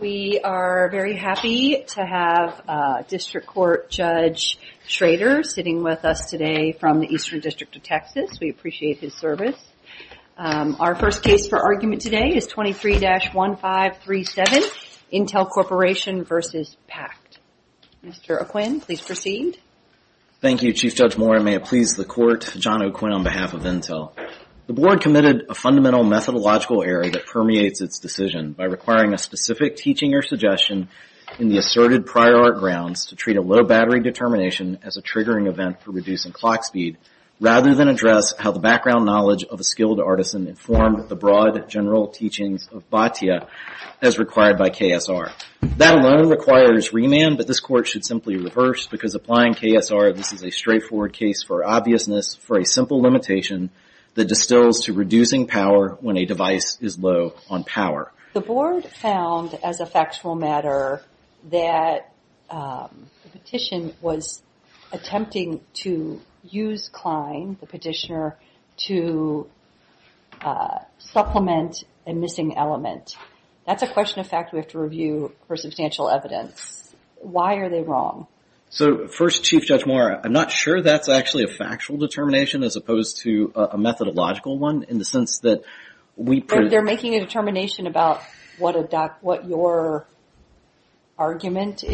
We are very happy to have District Court Judge Schrader sitting with us today from the Eastern District of Texas. We appreciate his service. Our first case for argument today is 23-1537 Intel Corporation v. PACT. Mr. O'Quinn, please proceed. Thank you, Chief Judge Moore, and may it please the Court, John O'Quinn on behalf of Intel. The Board committed a fundamental methodological error that permeates its decision by requiring a specific teaching or suggestion in the asserted prior art grounds to treat a low battery determination as a triggering event for reducing clock speed, rather than address how the background knowledge of a skilled artisan informed the broad general teachings of Bhatia as required by KSR. That alone requires remand, but this Court should simply reverse because applying KSR, this is a straightforward case for obviousness for a simple limitation that distills to reducing power when a device is low on power. The Board found, as a factual matter, that the petition was attempting to use Klein, the petitioner, to supplement a missing element. That's a question of fact we have to review for substantial evidence. Why are they wrong? So first, Chief Judge Moore, I'm not sure that's actually a factual determination as opposed to a methodological one in the sense that we... But they're making a determination about what your argument is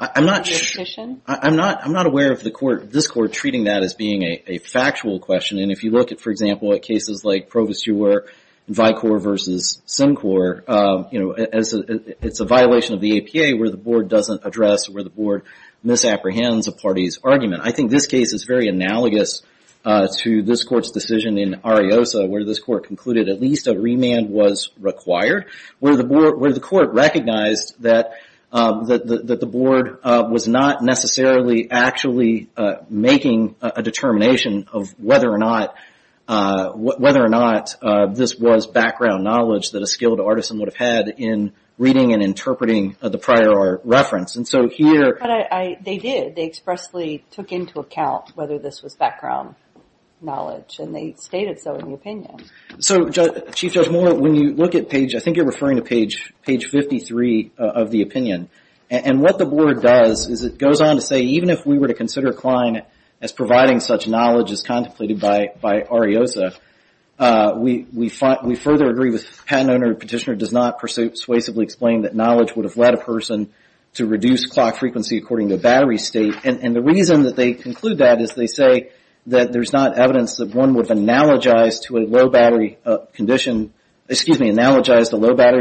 in the petition? I'm not aware of this Court treating that as being a factual question. And if you look at, for example, at cases like Provisio where Vicor versus Simcor, you know, it's a violation of the APA where the Board doesn't address, where the Board misapprehends a party's argument. I think this case is very analogous to this Court's decision in Ariosa where this Court concluded at least a remand was required, where the Court recognized that the Board was not necessarily actually making a determination of whether or not this was background knowledge that a skilled artisan would have had in reading and interpreting the prior reference. And so here... But they did. They expressly took into account whether this was background knowledge and they stated so in the opinion. So Chief Judge Moore, when you look at page... I think you're referring to page 53 of the opinion. And what the Board does is it goes on to say, even if we were to consider Klein as providing such knowledge as contemplated by Ariosa, we further agree with Patent Owner Petitioner does not persuasively explain that knowledge would have led a person to reduce clock frequency according to battery state. And the reason that they conclude that is they say that there's not evidence that one would analogize the low battery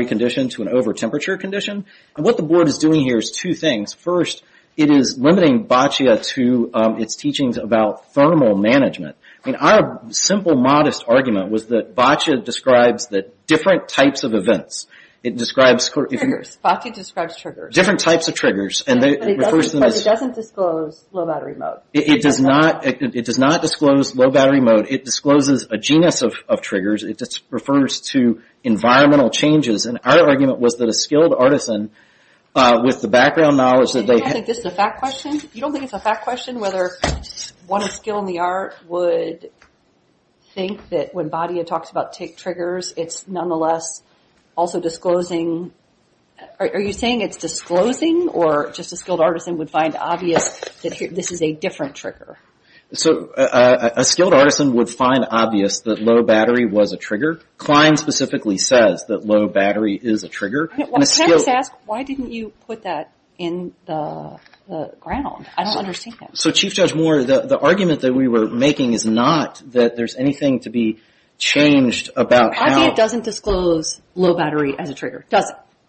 condition to an over-temperature condition. And what the Board is doing here is two things. First, it is limiting BACIA to its teachings about thermal management. I mean, our simple modest argument was that BACIA describes different types of events. It describes... Triggers. BACIA describes triggers. Different types of triggers. But it doesn't disclose low battery mode. It does not disclose low battery mode. It discloses a genus of triggers. It just refers to environmental changes. And our argument was that a skilled artisan with the background knowledge that they... You don't think this is a fact question? You don't think it's a fact question whether one of skill in the art would think that when BACIA talks about triggers, it's nonetheless also disclosing... Are you saying it's disclosing or just a skilled artisan would find obvious that this is a different trigger? So a skilled artisan would find obvious that low battery was a trigger. Klein specifically says that low battery is a trigger. Can I just ask, why didn't you put that in the ground? I don't understand. So Chief Judge Moore, the argument that we were making is not that there's anything to be changed about how... I mean, it doesn't disclose low battery as a trigger.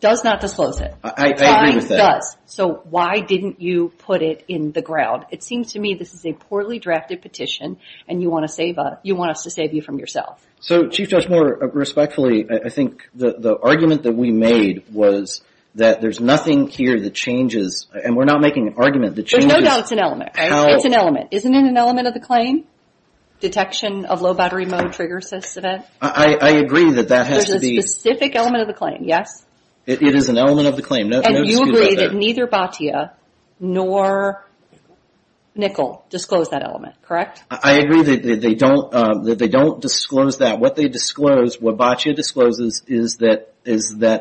Does not disclose it. I agree with that. It does. So why didn't you put it in the ground? It seems to me this is a poorly drafted petition and you want us to save you from yourself. So Chief Judge Moore, respectfully, I think the argument that we made was that there's nothing here that changes. And we're not making an argument that changes... There's no doubt it's an element. It's an element. Isn't it an element of the claim? Detection of low battery mode trigger sys event? I agree that that has to be... There's a specific element of the claim, yes? It is an element of the claim. And you agree that neither BATIA nor NICL disclose that element, correct? I agree that they don't disclose that. What they disclose, what BATIA discloses, is that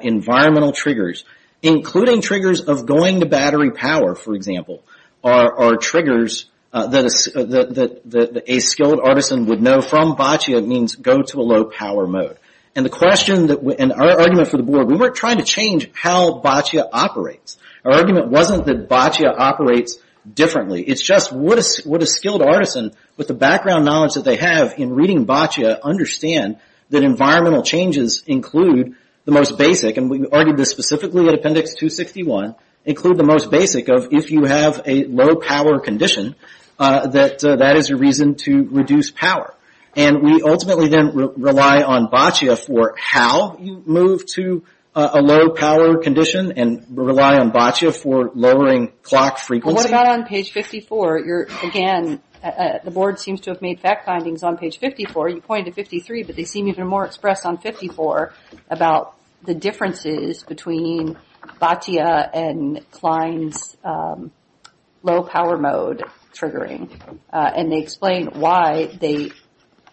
environmental triggers, including triggers of going to battery power, for example, are triggers that a skilled artisan would know from BATIA means go to a low power mode. And our argument for the board, we weren't trying to change how BATIA operates. Our argument wasn't that BATIA operates differently. It's just what a skilled artisan, with the background knowledge that they have in reading BATIA, understand that environmental changes include the most basic, and we argued this specifically at Appendix 261, include the most basic of if you have a low power condition, that that is a reason to reduce power. And we ultimately didn't rely on BATIA for how you move to a low power condition and rely on BATIA for lowering clock frequency. What about on page 54? Again, the board seems to have made fact findings on page 54. You pointed to 53, but they seem even more expressed on 54 about the differences between BATIA and Klein's low power mode triggering. And they explain why they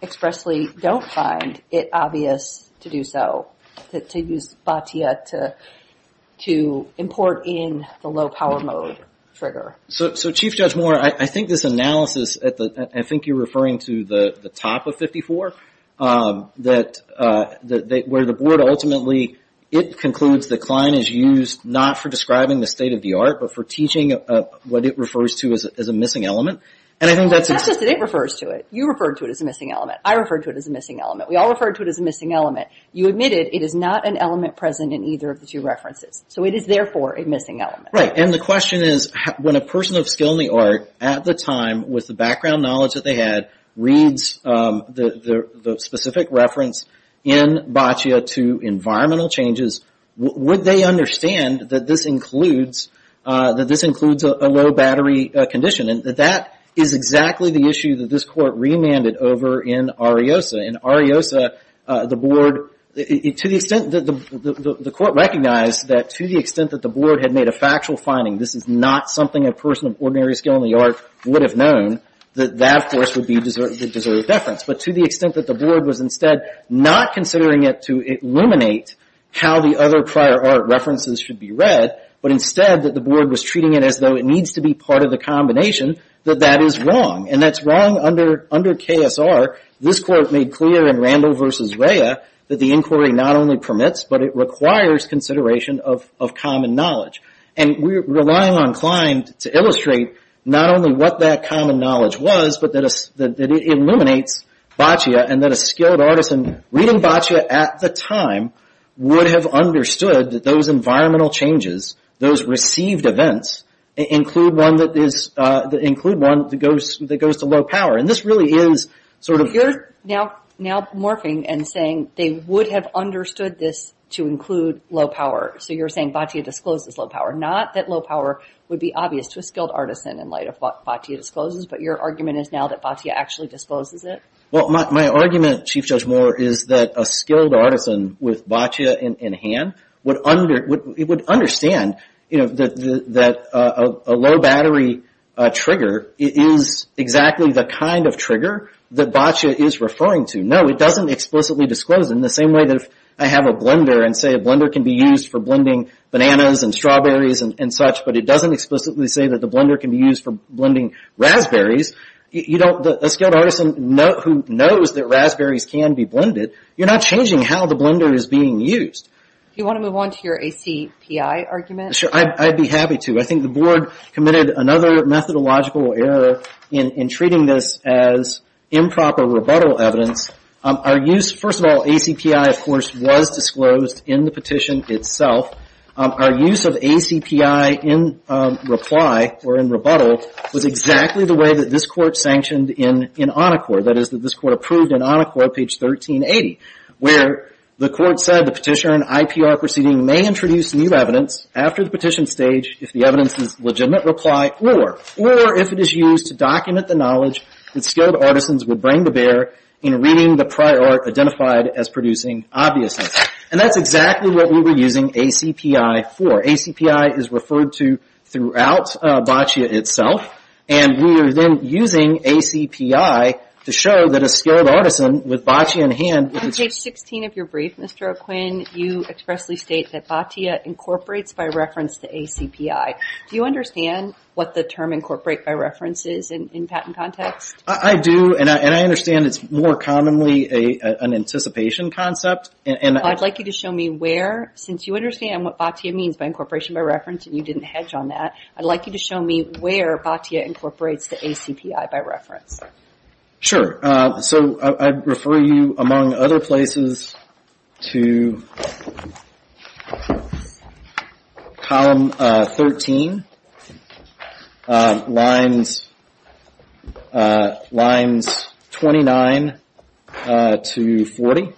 expressly don't find it obvious to do so, to use BATIA to import in the low power mode trigger. So Chief Judge Moore, I think this analysis, I think you're referring to the top of 54, where the board ultimately, it concludes that Klein is used not for describing the state of the art, but for teaching what it refers to as a missing element. It's not just that it refers to it. You referred to it as a missing element. I referred to it as a missing element. We all referred to it as a missing element. You admitted it is not an element present in either of the two references. So it is therefore a missing element. Right, and the question is, when a person of skill in the art, at the time, with the background knowledge that they had, reads the specific reference in BATIA to environmental changes, would they understand that this includes a low battery condition? And that is exactly the issue that this court remanded over in Ariosa. In Ariosa, the board, to the extent that the court recognized that to the extent that the board had made a factual finding, this is not something a person of ordinary skill in the art would have known, that that of course would be deserved deference. But to the extent that the board was instead not considering it to illuminate how the other prior art references should be read, but instead that the board was treating it as though it needs to be part of the combination, that that is wrong. And that's wrong under KSR. This court made clear in Randall v. Rhea that the inquiry not only permits, but it requires consideration of common knowledge. And we are relying on Klein to illustrate not only what that common knowledge was, but that it illuminates BATIA and that a skilled artisan reading BATIA at the time would have understood that those environmental changes, those received events, include one that goes to low power. And this really is sort of... You're now morphing and saying they would have understood this to include low power. So you're saying BATIA discloses low power, not that low power would be obvious to a skilled artisan in light of what BATIA discloses, but your argument is now that BATIA actually discloses it? Well, my argument, Chief Judge Moore, is that a skilled artisan with BATIA in hand would understand that a low battery trigger is exactly the kind of trigger that BATIA is referring to. No, it doesn't explicitly disclose it in the same way that if I have a blender and say a blender can be used for blending bananas and strawberries and such, but it doesn't explicitly say that the blender can be used for blending raspberries, a skilled artisan who knows that raspberries can be blended, you're not changing how the blender is being used. Do you want to move on to your ACPI argument? Sure, I'd be happy to. I think the Board committed another methodological error in treating this as improper rebuttal evidence. Our use, first of all, ACPI, of course, was disclosed in the petition itself. Our use of ACPI in reply or in rebuttal was exactly the way that this Court sanctioned in ONACOR, that is, that this Court approved in ONACOR, page 1380, where the Court said the petitioner in an IPR proceeding may introduce new evidence after the petition stage if the evidence is legitimate reply or if it is used to document the knowledge that skilled artisans would bring to bear in reading the prior art identified as producing obviousness. And that's exactly what we were using ACPI for. ACPI is referred to throughout BACIA itself, and we are then using ACPI to show that a skilled artisan with BACIA in hand... On page 16 of your brief, Mr. O'Quinn, you expressly state that BACIA incorporates by reference to ACPI. Do you understand what the term incorporate by reference is in patent context? I do, and I understand it's more commonly an anticipation concept. I'd like you to show me where, since you understand what BACIA means by incorporation by reference and you didn't hedge on that, I'd like you to show me where BACIA incorporates the ACPI by reference. Sure. So I'd refer you, among other places, to... Column 13, lines 29 to 40,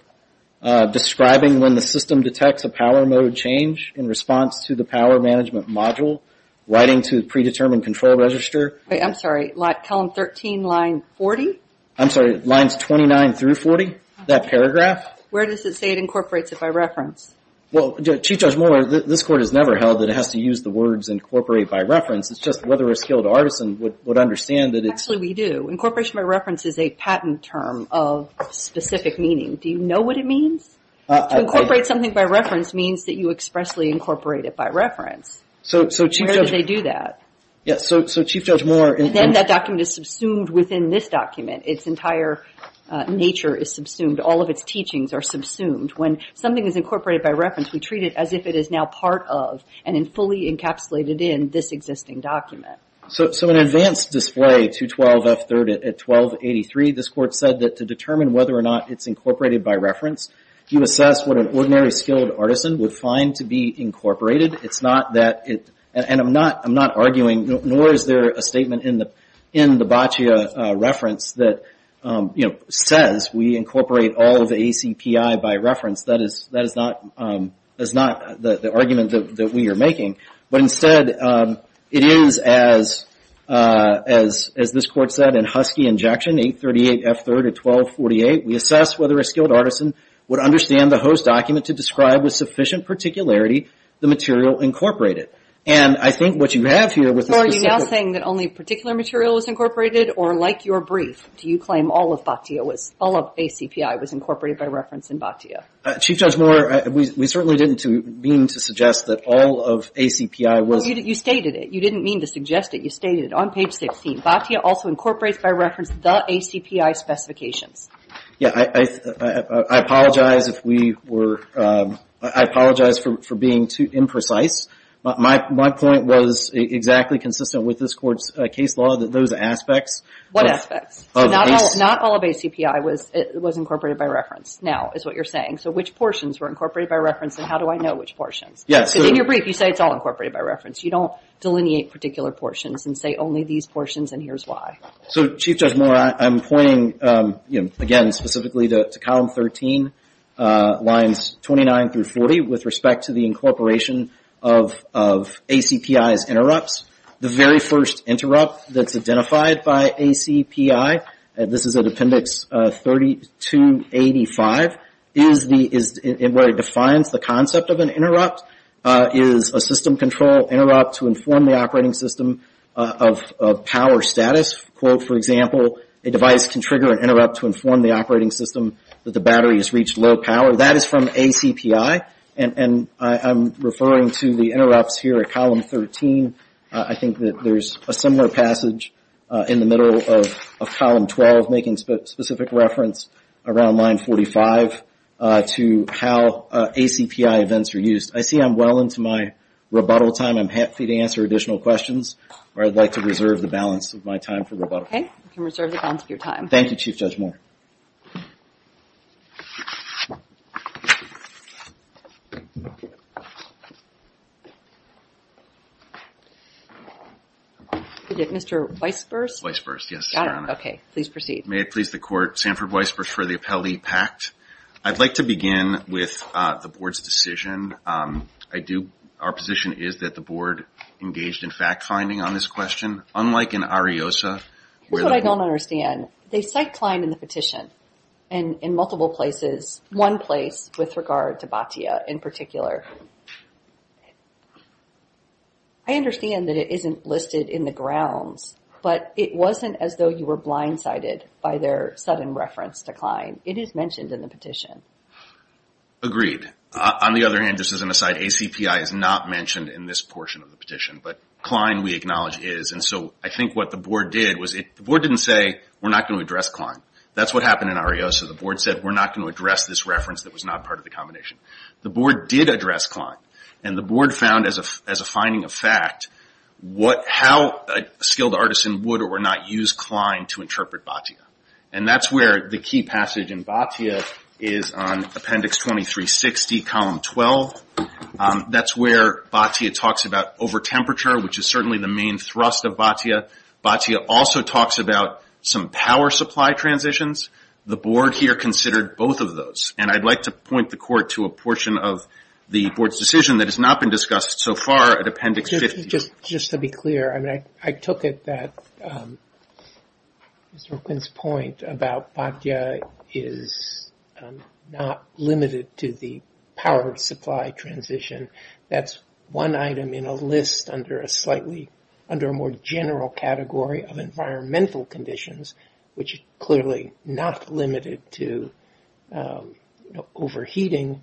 describing when the system detects a power mode change in response to the power management module, writing to predetermined control register... I'm sorry. Column 13, line 40? I'm sorry. Lines 29 through 40, that paragraph. Where does it say it incorporates it by reference? Well, Chief Judge Moore, this court has never held that it has to use the words incorporate by reference. It's just whether a skilled artisan would understand that it's... Actually, we do. Incorporation by reference is a patent term of specific meaning. Do you know what it means? To incorporate something by reference means that you expressly incorporate it by reference. Where do they do that? Yes, so Chief Judge Moore... Then that document is subsumed within this document. Its entire nature is subsumed. All of its teachings are subsumed. When something is incorporated by reference, we treat it as if it is now part of and fully encapsulated in this existing document. So in advanced display, 212F3 at 1283, this court said that to determine whether or not it's incorporated by reference, you assess what an ordinary skilled artisan would find to be incorporated. It's not that it... I'm not arguing, nor is there a statement in the Haccia reference that says we incorporate all of the ACPI by reference. That is not the argument that we are making. But instead, it is as this court said in Husky Injection, 838F3 at 1248, we assess whether a skilled artisan would understand the host document to describe with sufficient particularity the material incorporated. And I think what you have here with this... Are you now saying that only particular material is incorporated? Or like your brief, do you claim all of BATIA was, all of ACPI was incorporated by reference in BATIA? Chief Judge Moore, we certainly didn't mean to suggest that all of ACPI was... You stated it. You didn't mean to suggest it. You stated it on page 16. BATIA also incorporates by reference the ACPI specifications. Yeah. I apologize if we were... I apologize for being too imprecise. My point was exactly consistent with this court's case law, that those aspects... What aspects? Not all of ACPI was incorporated by reference now, is what you're saying. So which portions were incorporated by reference and how do I know which portions? Yes. Because in your brief, you say it's all incorporated by reference. You don't delineate particular portions and say only these portions and here's why. So Chief Judge Moore, I'm pointing again specifically to column 13, lines 29 through 40 with respect to the incorporation of ACPI's interrupts. The very first interrupt that's identified by ACPI, this is at appendix 3285, is where it defines the concept of an interrupt, is a system control interrupt to inform the operating system of power status. For example, a device can trigger an interrupt to inform the operating system that the battery has reached low power. That is from ACPI and I'm referring to the interrupts here at column 13. I think that there's a similar passage in the middle of column 12 making specific reference around line 45 to how ACPI events are used. I see I'm well into my rebuttal time. I'm happy to answer additional questions or I'd like to reserve the balance of my time for rebuttal. Okay. You can reserve the balance of your time. Thank you, Chief Judge Moore. Mr. Weisburs? Weisburs, yes, Your Honor. Okay, please proceed. May it please the court, Sanford Weisburs for the appellee, packed. I'd like to begin with the board's decision. Our position is that the board engaged in fact finding on this question. Unlike in Ariosa, where the- I understand that it isn't listed in the grounds, but it wasn't as though you were blindsided by their sudden reference to Klein. It is mentioned in the petition. Agreed. On the other hand, just as an aside, ACPI is not mentioned in this portion of the petition, but Klein we acknowledge is. I think what the board did was the board didn't say we're not going to address Klein. That's what happened in Ariosa. The board said we're not going to address this reference that was not part of the combination. The board did address Klein. The board found as a finding of fact how a skilled artisan would or would not use Klein to interpret Batya. That's where the key passage in Batya is on Appendix 2360, Column 12. That's where Batya talks about over-temperature, which is certainly the main thrust of Batya. Batya also talks about some power supply transitions. The board here considered both of those. I'd like to point the court to a portion of the board's decision that has not been discussed so far at Appendix 50. Just to be clear, I took it that Mr. Quinn's point about Batya is not limited to the power supply transition. That's one item in a list under a more general category of environmental conditions, which clearly not limited to overheating,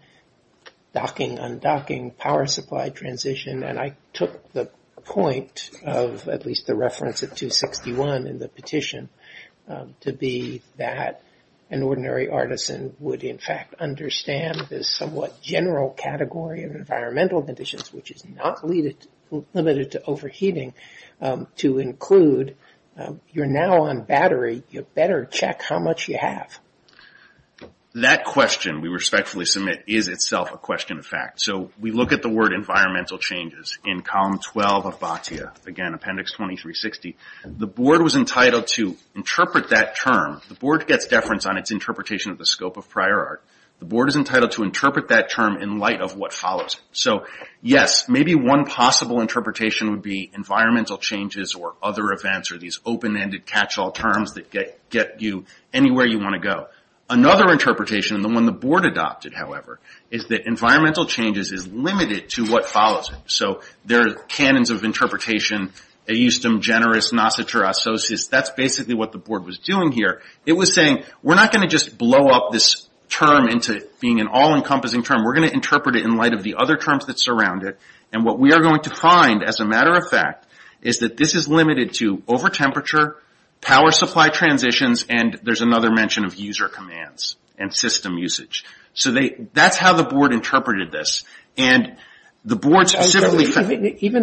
docking, undocking, power supply transition. I took the point of at least the reference of 261 in the petition to be that an ordinary artisan would in fact understand this somewhat general category of environmental conditions, which is not limited to overheating, to include you're now on battery. You better check how much you have. That question we respectfully submit is itself a question of fact. We look at the word environmental changes in Column 12 of Batya, again, Appendix 2360. The board was entitled to interpret that term. The board gets deference on its interpretation of the scope of prior art. The board is entitled to interpret that term in light of what follows. Yes, maybe one possible interpretation would be environmental changes or other events or these open-ended catch-all terms that get you anywhere you want to go. Another interpretation, the one the board adopted, however, is that environmental changes is limited to what follows. There are canons of interpretation, aeustum, generis, nocitur, associis. That's basically what the board was doing here. It was saying, we're not going to just blow up this term into being an all-encompassing term. We're going to interpret it in light of the other terms that surround it. What we are going to find, as a matter of fact, is that this is limited to over-temperature, power supply transitions, and there's another mention of user commands and system usage. That's how the board interpreted this. Even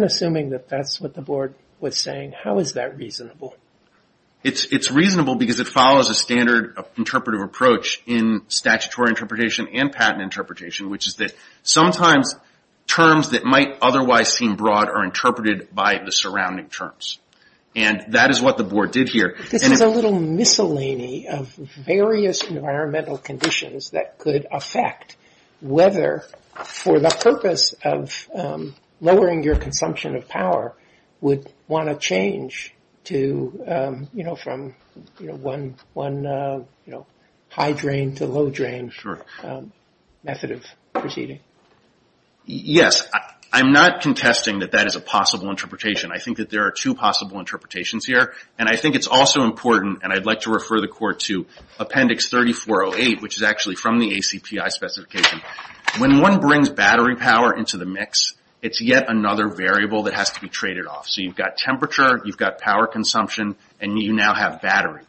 assuming that that's what the board was saying, how is that reasonable? It's reasonable because it follows a standard interpretive approach in statutory interpretation and patent interpretation, which is that sometimes terms that might otherwise seem broad are interpreted by the surrounding terms. That is what the board did here. This is a little miscellany of various environmental conditions that could affect whether, for example, the purpose of lowering your consumption of power would want to change from one high drain to low drain method of proceeding. Yes. I'm not contesting that that is a possible interpretation. I think that there are two possible interpretations here, and I think it's also important, and I'd like to refer the court to Appendix 3408, which is actually from the ACPI specification. When one brings battery power into the mix, it's yet another variable that has to be traded off. You've got temperature, you've got power consumption, and you now have battery.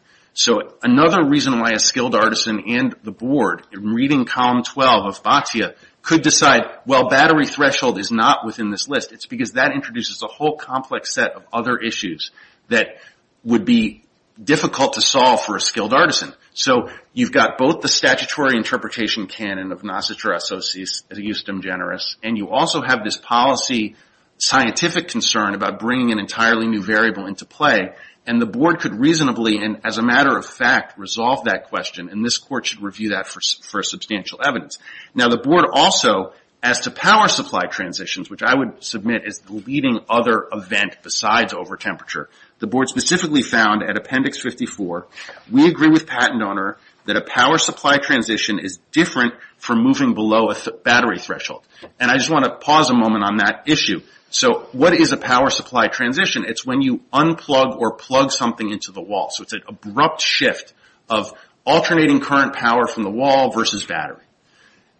Another reason why a skilled artisan and the board, in reading Column 12 of FATIA, could decide, well, battery threshold is not within this list. It's because that introduces a whole complex set of other issues that would be difficult to solve for a skilled artisan. So, you've got both the statutory interpretation canon of Nocetur Associis Justum Generis, and you also have this policy scientific concern about bringing an entirely new variable into play, and the board could reasonably, and as a matter of fact, resolve that question, and this court should review that for substantial evidence. Now, the board also, as to power supply transitions, which I would submit is the leading other event besides The board specifically found, at Appendix 54, we agree with Pat and Donor that a power supply transition is different from moving below a battery threshold. And I just want to pause a moment on that issue. So, what is a power supply transition? It's when you unplug or plug something into the wall. So, it's an abrupt shift of alternating current power from the wall versus battery.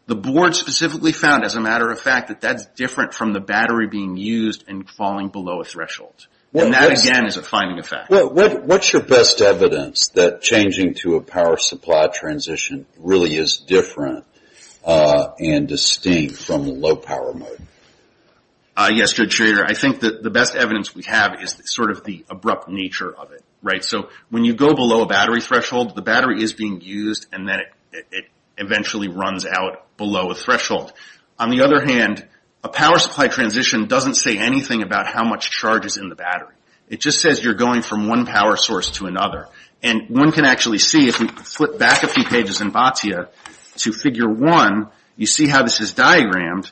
The board specifically found, as a matter of fact, that that's different from the battery being used and falling below a threshold. And that, again, is a finding of fact. What's your best evidence that changing to a power supply transition really is different and distinct from low power mode? Yes, Judge Schrader. I think that the best evidence we have is sort of the abrupt nature of it, right? So, when you go below a battery threshold, the battery is being used, and then it eventually runs out below a threshold. On the other hand, a power supply transition doesn't say anything about how much charge is in the battery. It just says you're going from one power source to another. And one can actually see, if we flip back a few pages in Batya to Figure 1, you see how this is diagrammed.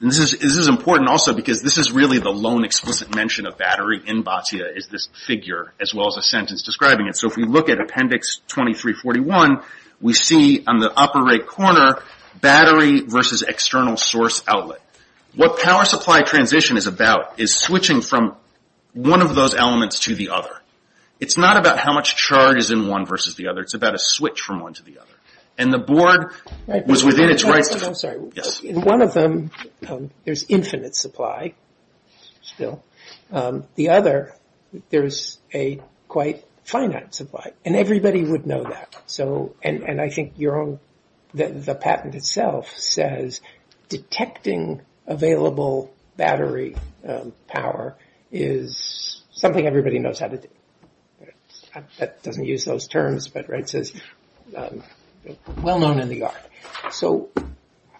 And this is important also because this is really the lone explicit mention of battery in Batya, is this figure, as well as a sentence describing it. So, if we look at Appendix 2341, we see on the upper right corner, battery versus external source outlet. What power supply transition is about is switching from one of those elements to the other. It's not about how much charge is in one versus the other. It's about a switch from one to the other. And the board was within its rights to that. One of them, there's infinite supply still. The other, there's a quite finite supply. And everybody would know that. And I think the patent itself says detecting available battery power is something everybody knows how to do. That doesn't use those terms, but it says well known in the art. So,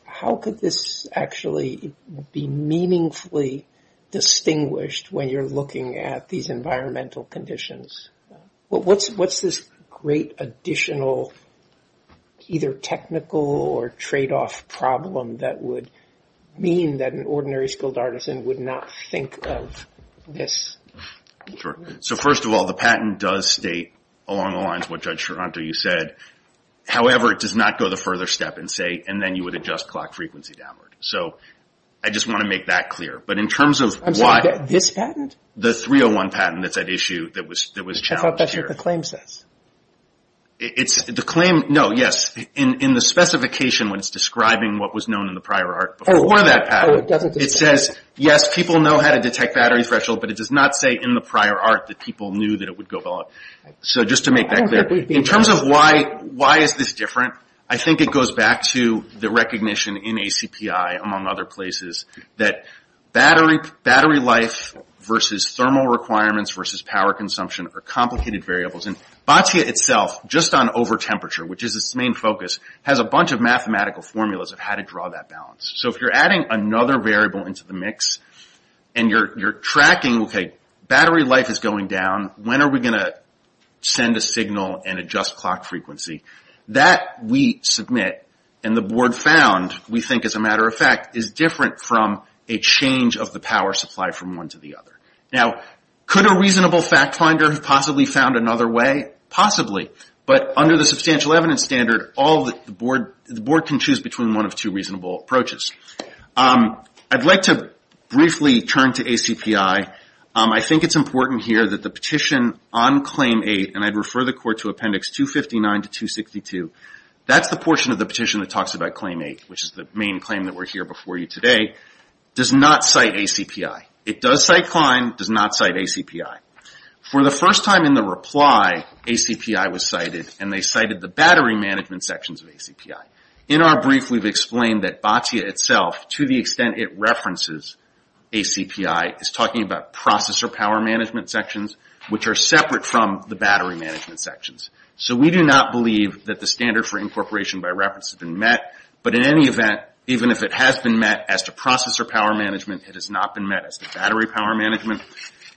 how could this actually be meaningfully distinguished when you're looking at these environmental conditions? What's this great additional either technical or tradeoff problem that would mean that an ordinary skilled artisan would not think of this? Sure. So, first of all, the patent does state along the lines of what Judge Charanto, you said. However, it does not go the further step and say, and then you would adjust clock frequency downward. So, I just want to make that clear. But in terms of why. I'm sorry, this patent? The 301 patent that's at issue that was challenged here. I thought that's what the claim says. The claim, no, yes. In the specification when it's describing what was known in the prior art before that patent. Oh, it doesn't. It says, yes, people know how to detect battery threshold, but it does not say in the prior art that people knew that it would go below. So, just to make that clear. In terms of why is this different? I think it goes back to the recognition in ACPI, among other places, that battery life versus thermal requirements versus power consumption are complicated variables. And Batia itself, just on over temperature, which is its main focus, has a bunch of mathematical formulas of how to draw that balance. So, if you're adding another variable into the mix and you're tracking, okay, battery life is going down. When are we going to send a signal and adjust clock frequency? That we submit and the board found, we think as a matter of fact, is different from a change of the power supply from one to the other. Now, could a reasonable fact finder have possibly found another way? Possibly. But under the substantial evidence standard, the board can choose between one of two reasonable approaches. I'd like to briefly turn to ACPI. I think it's important here that the petition on Claim 8, and I'd refer the court to Appendix 259 to 262. That's the portion of the petition that talks about Claim 8, which is the main claim that we're here before you today, does not cite ACPI. It does cite Klein, does not cite ACPI. For the first time in the reply, ACPI was cited, and they cited the battery management sections of ACPI. In our brief, we've explained that Batya itself, to the extent it references ACPI, is talking about processor power management sections, which are separate from the battery management sections. So, we do not believe that the standard for incorporation by reference has been met. But in any event, even if it has been met as to processor power management, it has not been met as to battery power management.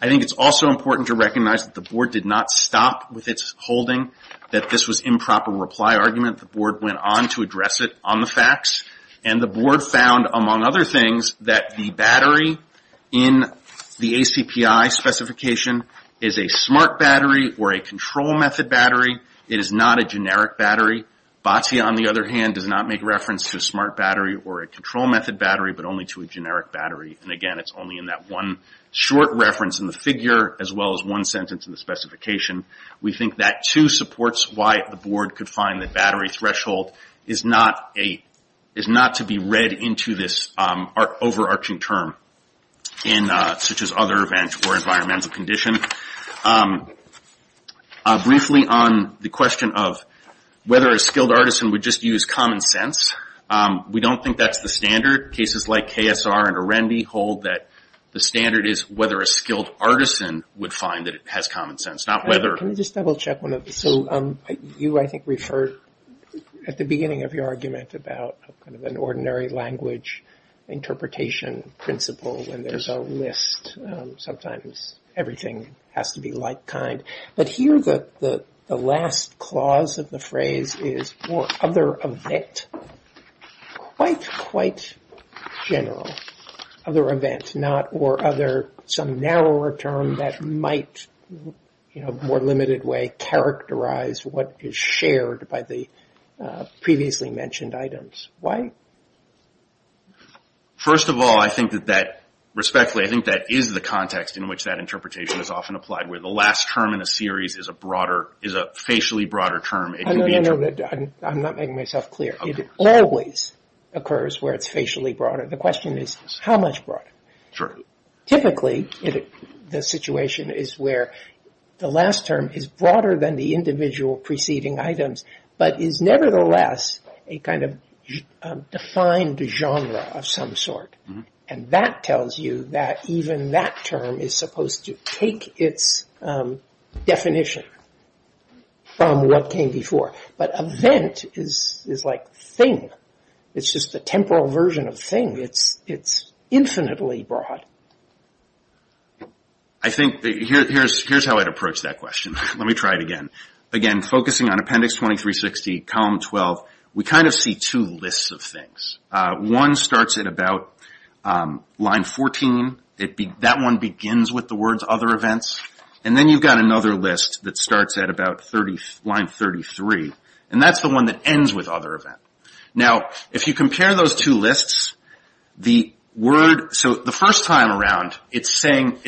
I think it's also important to recognize that the board did not stop with its holding that this was improper reply argument. The board went on to address it on the facts, and the board found, among other things, that the battery in the ACPI specification is a smart battery or a control method battery. It is not a generic battery. Batya, on the other hand, does not make reference to a smart battery or a control method battery, but only to a generic battery. And again, it's only in that one short reference in the figure, as well as one sentence in the specification. We think that, too, supports why the board could find that battery threshold is not to be read into this overarching term, such as other events or environmental condition. Briefly, on the question of whether a skilled artisan would just use common sense, we don't think that's the standard. Cases like KSR and Arendi hold that the standard is whether a skilled artisan would find that it has common sense, not whether. Can I just double-check one of these? So you, I think, referred at the beginning of your argument about kind of an ordinary language interpretation principle, and there's a list. Sometimes everything has to be like kind. But here, the last clause of the phrase is for other event. Quite, quite general. Other event, not or other, some narrower term that might, in a more limited way, characterize what is shared by the previously mentioned items. Why? First of all, I think that that, respectfully, I think that is the context in which that interpretation is often applied. Where the last term in a series is a broader, is a facially broader term. I'm not making myself clear. It always occurs where it's facially broader. The question is, how much broader? Typically, the situation is where the last term is broader than the individual preceding items, but is nevertheless a kind of defined genre of some sort. And that tells you that even that term is supposed to take its definition from what came before. But event is like thing. It's just a temporal version of thing. It's infinitely broad. I think, here's how I'd approach that question. Let me try it again. Again, focusing on Appendix 2360, Column 12, we kind of see two lists of things. One starts at about line 14. That one begins with the words other events. And then you've got another list that starts at about line 33. And that's the one that ends with other event. Now, if you compare those two lists, the word, so the first time around, it's saying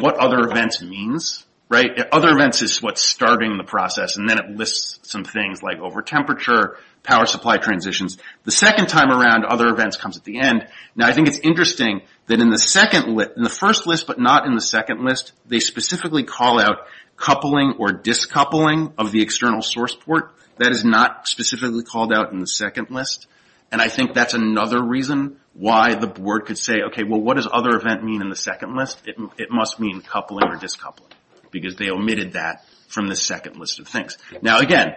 what other events means. Right? Other events is what's starting the process. And then it lists some things like over temperature, power supply transitions. The second time around, other events comes at the end. Now, I think it's interesting that in the first list but not in the second list, they specifically call out coupling or discoupling of the external source port. That is not specifically called out in the second list. And I think that's another reason why the board could say, okay, well, what does other event mean in the second list? It must mean coupling or discoupling because they omitted that from the second list of things. Now, again,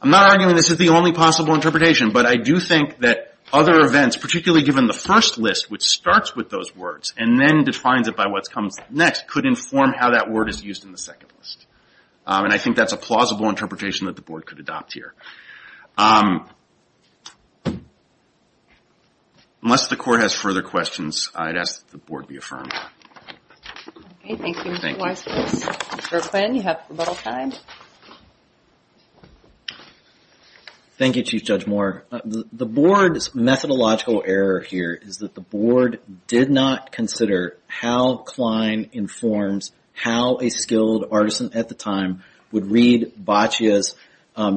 I'm not arguing this is the only possible interpretation. But I do think that other events, particularly given the first list, which starts with those words and then defines it by what comes next could inform how that word is used in the second list. And I think that's a plausible interpretation that the board could adopt here. Unless the court has further questions, I'd ask that the board be affirmed. Okay, thank you, Mr. Weiss. Mr. Quinn, you have rebuttal time. Thank you, Chief Judge Moore. The board's methodological error here is that the board did not consider how Klein informs how a skilled artisan at the time would read Boccia's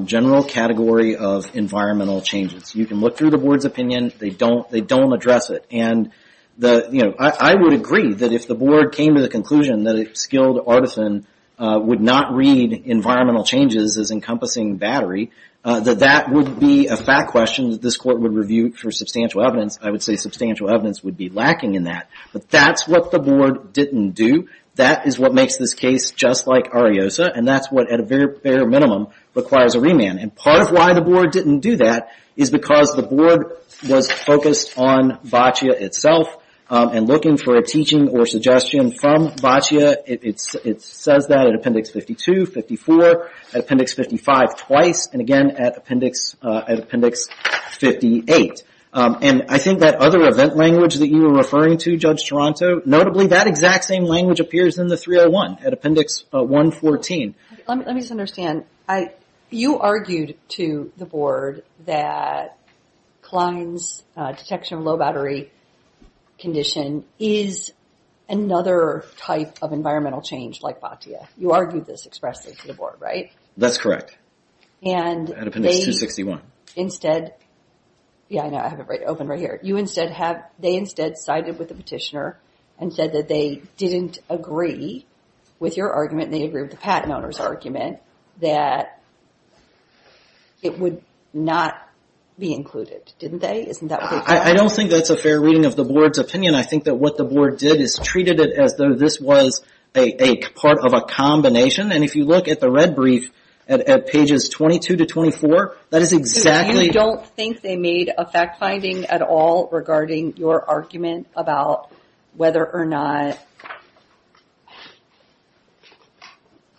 general category of environmental changes. You can look through the board's opinion. They don't address it. I would agree that if the board came to the conclusion that a skilled artisan would not read environmental changes as encompassing battery, that that would be a fact question that this court would review for substantial evidence. I would say substantial evidence would be lacking in that. But that's what the board didn't do. That is what makes this case just like Ariosa. And that's what, at a very bare minimum, requires a remand. And part of why the board didn't do that is because the board was focused on Boccia itself and looking for a teaching or suggestion from Boccia. It says that at Appendix 52, 54, at Appendix 55 twice, and again at Appendix 58. And I think that other event language that you were referring to, Judge Toronto, notably that exact same language appears in the 301 at Appendix 114. Let me just understand. You argued to the board that Klein's detection of low battery condition is another type of environmental change like Boccia. You argued this expressly to the board, right? That's correct. At Appendix 261. Yeah, I know. I have it open right here. They instead sided with the petitioner and said that they didn't agree with your argument and they agreed with the patent owner's argument that it would not be included, didn't they? Isn't that what they thought? I don't think that's a fair reading of the board's opinion. I think that what the board did is treated it as though this was a part of a combination. And if you look at the red brief at pages 22 to 24, that is exactly... regarding your argument about whether or not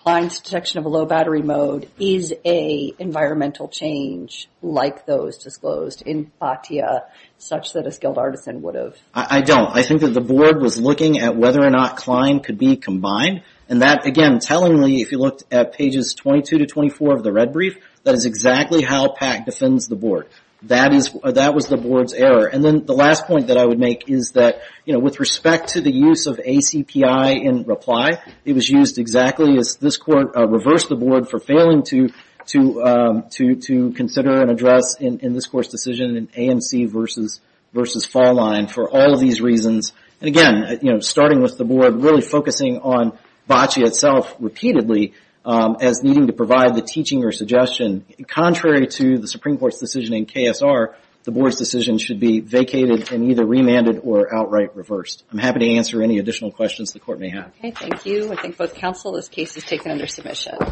Klein's detection of a low battery mode is a environmental change like those disclosed in Boccia, such that a skilled artisan would have... I don't. I think that the board was looking at whether or not Klein could be combined. And that, again, tellingly, if you looked at pages 22 to 24 of the red brief, that is exactly how PAC defends the board. That was the board's error. And then the last point that I would make is that with respect to the use of ACPI in reply, it was used exactly as this court reversed the board for failing to consider and address in this court's decision an AMC versus fall line for all of these reasons. And again, starting with the board, really focusing on Boccia itself repeatedly as needing to provide the teaching or suggestion. Contrary to the Supreme Court's decision in KSR, the board's decision should be vacated and either remanded or outright reversed. I'm happy to answer any additional questions the court may have. Okay. Thank you. I thank both counsel. This case is taken under submission.